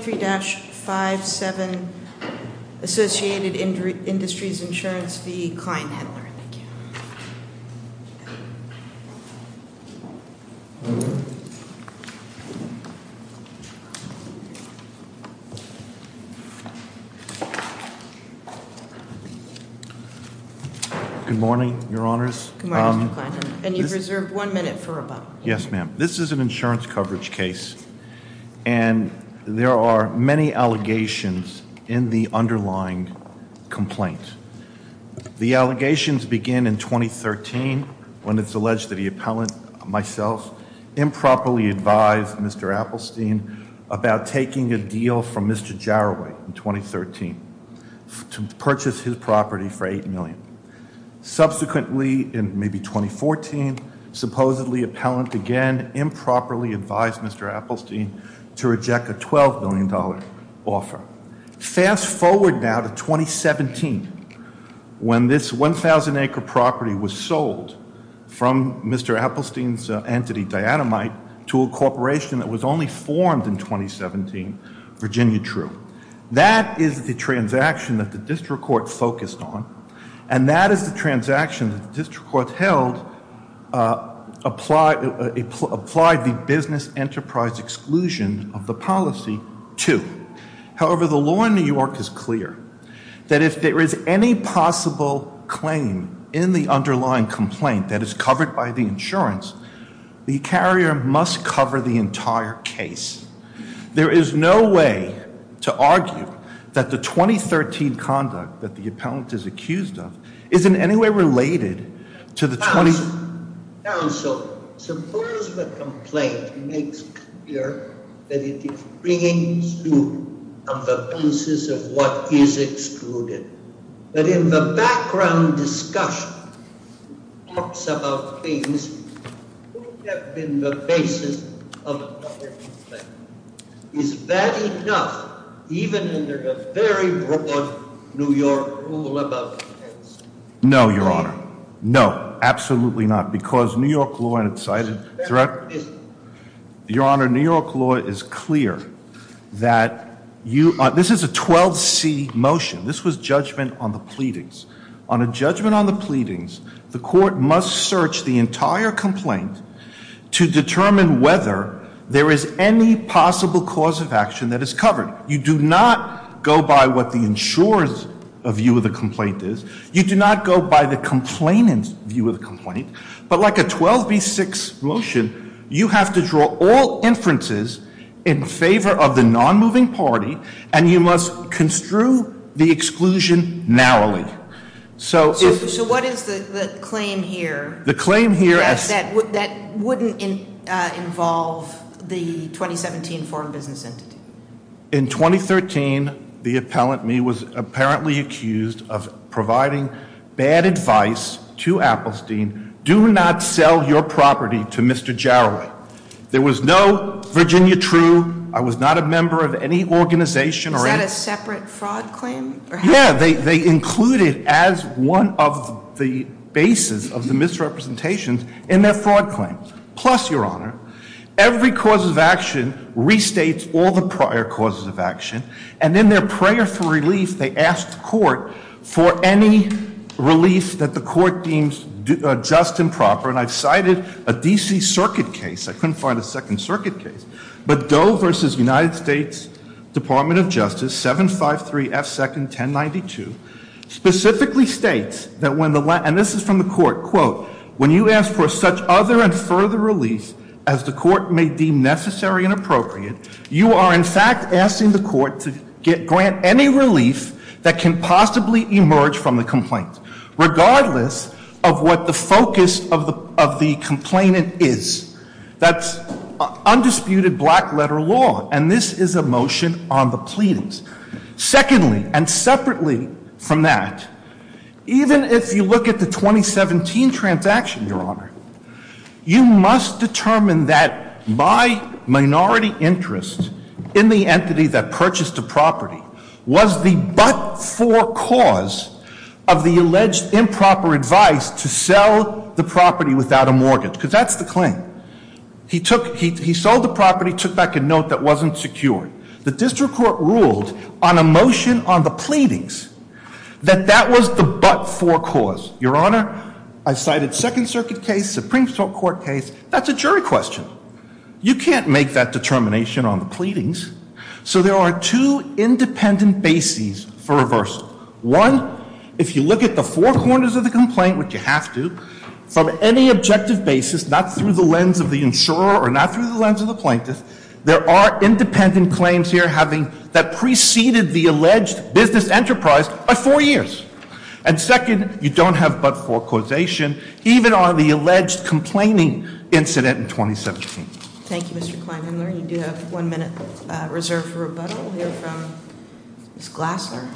23-57 Associated Industries Insurance v. Klein-Hendler. Good morning, your honors. Good morning, Mr. Klein-Hendler. And you've reserved one minute for rebuttal. Yes, ma'am. This is an insurance coverage case. And there are many allegations in the underlying complaint. The allegations begin in 2013 when it's alleged that the appellant, myself, improperly advised Mr. Appelstein about taking a deal from Mr. Jaroway in 2013 to purchase his property for $8 million. Subsequently, in maybe 2014, supposedly appellant again improperly advised Mr. Appelstein to purchase his property for $8 million. Subsequently, in maybe 2014, supposedly appellant again improperly advised Mr. Appelstein to reject a $12 million offer. Fast forward now to 2017, when this 1,000-acre property was sold from Mr. Appelstein's entity, Diatomite, to a corporation that was only formed in 2017, Virginia True. That is the transaction that the district court focused on. And that is the transaction that the district court held applied the Business Enterprise Accountability Act. And there was no exclusion of the policy, too. However, the law in New York is clear that if there is any possible claim in the underlying complaint that is covered by the insurance, the carrier must cover the entire case. There is no way to argue that the 2013 conduct that the appellant is accused of isn't any way related to the 2013 conduct. Counsel, suppose the complaint makes clear that it is bringing to the basis of what is excluded. But in the background discussion, it talks about things that could have been the basis of another complaint. Is that enough, even under the very broad New York rule about the case? No, Your Honor. No, absolutely not, because New York law and its cited threat. Your Honor, New York law is clear that this is a 12C motion. This was judgment on the pleadings. On a judgment on the pleadings, the court must search the entire complaint to determine whether there is any possible cause of action that is covered. You do not go by what the insurer's view of the complaint is. You do not go by the complainant's view of the complaint. But like a 12B6 motion, you have to draw all inferences in favor of the non-moving party, and you must construe the exclusion narrowly. So what is the claim here? That wouldn't involve the 2017 foreign business entity. In 2013, the appellant, me, was apparently accused of providing bad advice to Appelstein. Do not sell your property to Mr. Jarrell. There was no Virginia True. I was not a member of any organization. Is that a separate fraud claim? Yeah, they include it as one of the bases of the misrepresentations in their fraud claim. Plus, Your Honor, every cause of action restates all the prior causes of action, and in their prayer for relief, they ask the court for any relief that the court deems just and proper. And I've cited a D.C. Circuit case. I couldn't find a Second Circuit case. But Doe v. United States Department of Justice 753 F. 2nd 1092 specifically states that when the, and this is from the court, quote, when you ask for such other and further relief as the court may deem necessary and appropriate, you are in fact asking the court to grant any relief that can possibly emerge from the complaint, regardless of what the focus of the complainant is. That's undisputed black letter law, and this is a motion on the pleadings. Secondly, and separately from that, even if you look at the 2017 transaction, Your Honor, you must determine that my minority interest in the entity that purchased the property was the but-for cause of the alleged improper advice to sell the property without a mortgage, because that's the claim. He sold the property, took back a note that wasn't secured. The district court ruled on a motion on the pleadings that that was the but-for cause. Your Honor, I've cited Second Circuit case, Supreme Court case. That's a jury question. You can't make that determination on the pleadings. So there are two independent bases for reversal. One, if you look at the four corners of the complaint, which you have to, from any objective basis, not through the lens of the insurer or not through the lens of the plaintiff, there are independent claims here having that preceded the alleged business enterprise by four years. And second, you don't have but-for causation, even on the alleged complaining incident in 2017. Thank you, Mr. Kleinheimer. You do have one minute reserved for rebuttal. We'll hear from Ms. Gassler.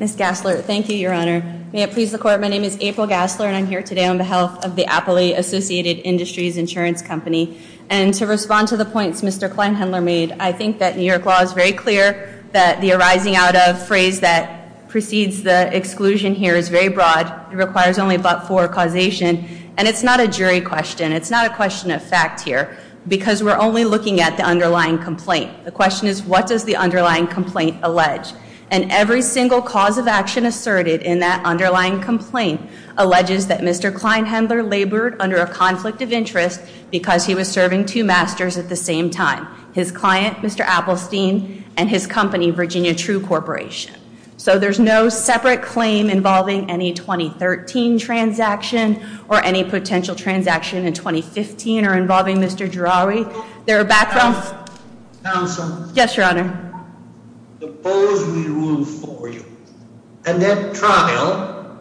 Ms. Gassler, thank you, Your Honor. May it please the Court, my name is April Gassler and I'm here today on behalf of the Appley Associated Industries Insurance Company. And to respond to the points Mr. Kleinheimer made, I think that New York law is very clear that the arising out of phrase that precedes the exclusion here is very broad. It requires only but-for causation. And it's not a jury question. It's not a question of fact here. Because we're only looking at the underlying complaint. The question is, what does the underlying complaint allege? And every single cause of action asserted in that underlying complaint alleges that Mr. Kleinheimer labored under a conflict of interest because he was serving two masters at the same time. His client, Mr. Appelstein, and his company, Virginia True Corporation. So there's no separate claim involving any 2013 transaction or any potential transaction in 2015 or involving Mr. Jarawi. Counsel? Yes, Your Honor. Suppose we rule for you a net trial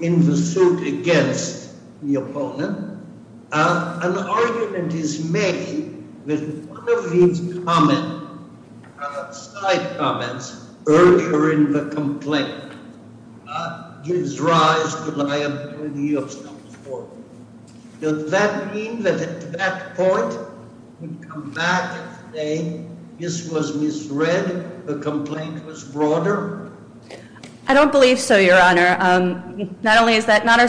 in the suit against the opponent. An argument is made with one of these side comments urging the complaint. That gives rise to liability of some form. Does that mean that at that point we come back and say this was misread? The complaint was broader? I don't believe so, Your Honor. Not only is that not our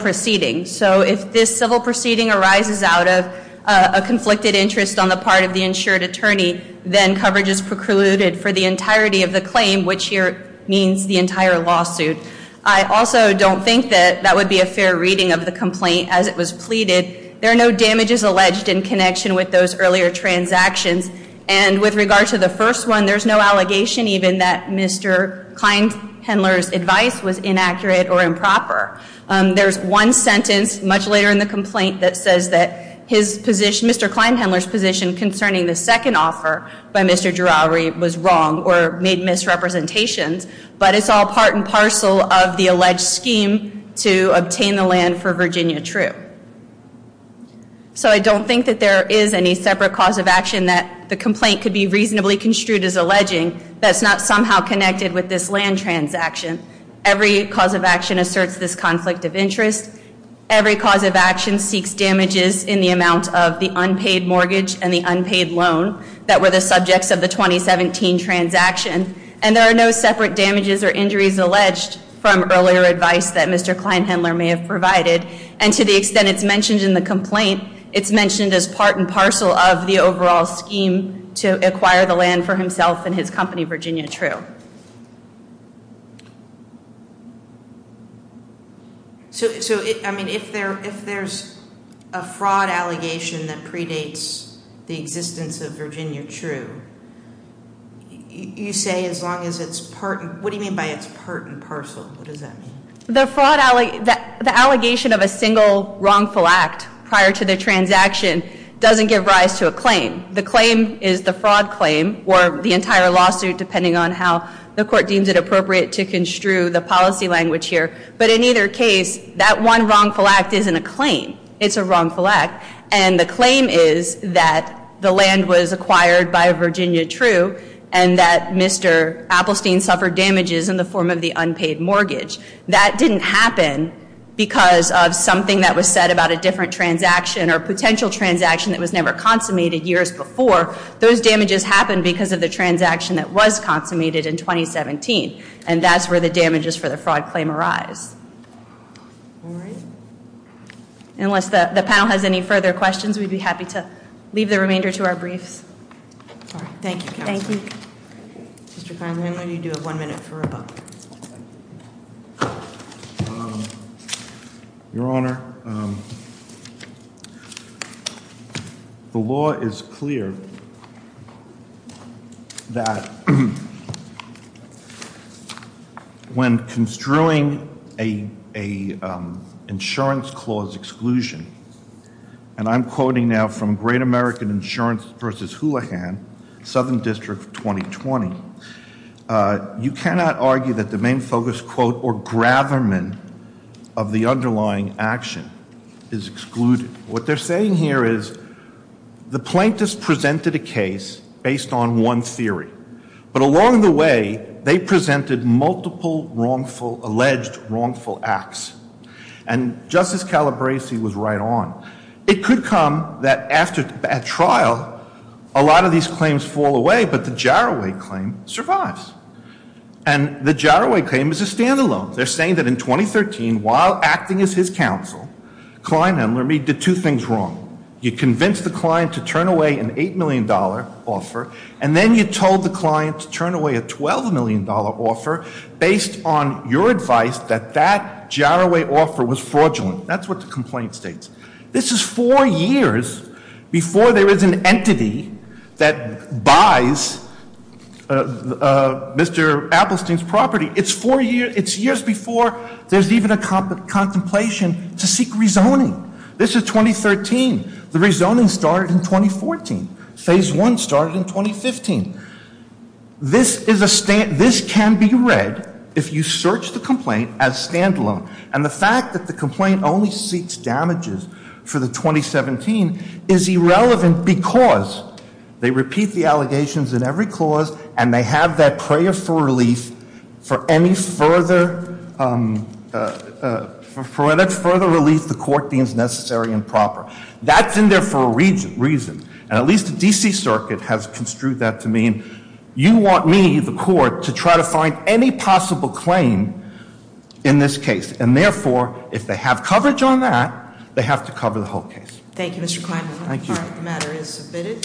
proceeding. So if this civil proceeding arises out of a conflicted interest on the part of the insured attorney, then coverage is precluded for the entirety of the claim, which here means the entire lawsuit. I also don't think that that would be a fair reading of the complaint as it was pleaded. There are no damages alleged in connection with those earlier transactions. And with regard to the first one, there's no allegation even that Mr. Kleinendler's advice was inaccurate or improper. There's one sentence much later in the complaint that says that his position, Mr. Kleinendler's position concerning the second offer by Mr. Jarawi was wrong or made misrepresentations, but it's all part and parcel of the alleged scheme to obtain the land for Virginia True. So I don't think that there is any separate cause of action that the complaint could be reasonably construed as alleging that's not somehow connected with this land transaction. Every cause of action asserts this conflict of interest. Every cause of action seeks damages in the amount of the unpaid mortgage and the unpaid loan that were the subjects of the 2017 transaction. And there are no separate damages or injuries alleged from earlier advice that Mr. Kleinendler may have in the overall scheme to acquire the land for himself and his company, Virginia True. So I mean, if there's a fraud allegation that predates the existence of Virginia True, you say as long as it's part and, what do you mean by it's part and parcel? What does that mean? The fraud, the claim, the claim is the fraud claim or the entire lawsuit, depending on how the court deems it appropriate to construe the policy language here. But in either case, that one wrongful act isn't a claim. It's a wrongful act. And the claim is that the land was acquired by Virginia True and that Mr. Appelstein suffered damages in the form of the unpaid mortgage. That didn't happen because of something that was said about a different transaction or potential transaction that was never consummated years before. Those damages happened because of the transaction that was consummated in 2017. And that's where the damages for the fraud claim arise. Unless the panel has any further questions, we'd be happy to leave the remainder to our briefs. Thank you. Mr. Carlin, I know you do have one minute for a book. Your Honor, the law is clear that when construing a insurance clause exclusion, and I'm quoting now from Great American Insurance v. Houlihan, Southern District of 2020, you cannot argue that the main focus quote or gravamen of the underlying action is excluded. What they're saying here is the plaintiffs presented a case based on one theory. But along the way, they presented multiple wrongful, alleged wrongful acts. And Justice Calabresi was right on. It could come that after a trial, a lot of these claims fall away, but the Jaroway claim survives. And the Jaroway claim is a standalone. They're saying that in 2013, while acting as his counsel, Klein and Lameed did two things wrong. You convinced the client to turn away an $8 million offer, and then you told the client to turn away a $12 million offer based on your advice that that Jaroway offer was fraudulent. That's what the complaint states. This is four years before there is an entity that buys Mr. Appelstein's property. It's four years, it's years before there's even a contemplation to seek rezoning. This is 2013. The rezoning started in 2014. Phase 1 started in 2015. This can be read, if you search the complaint, as standalone. And the fact that the complaint only seeks damages for the 2017 is irrelevant because they repeat the allegations in every clause and they have that prayer for relief for any further relief the court deems necessary and proper. That's in there for a reason. And at least the D.C. Circuit has construed that to mean you want me, the court, to try to find any possible claim in this case. And therefore, if they have coverage on that, they have to cover the whole case. Thank you, Mr. Kleinman. The matter is submitted.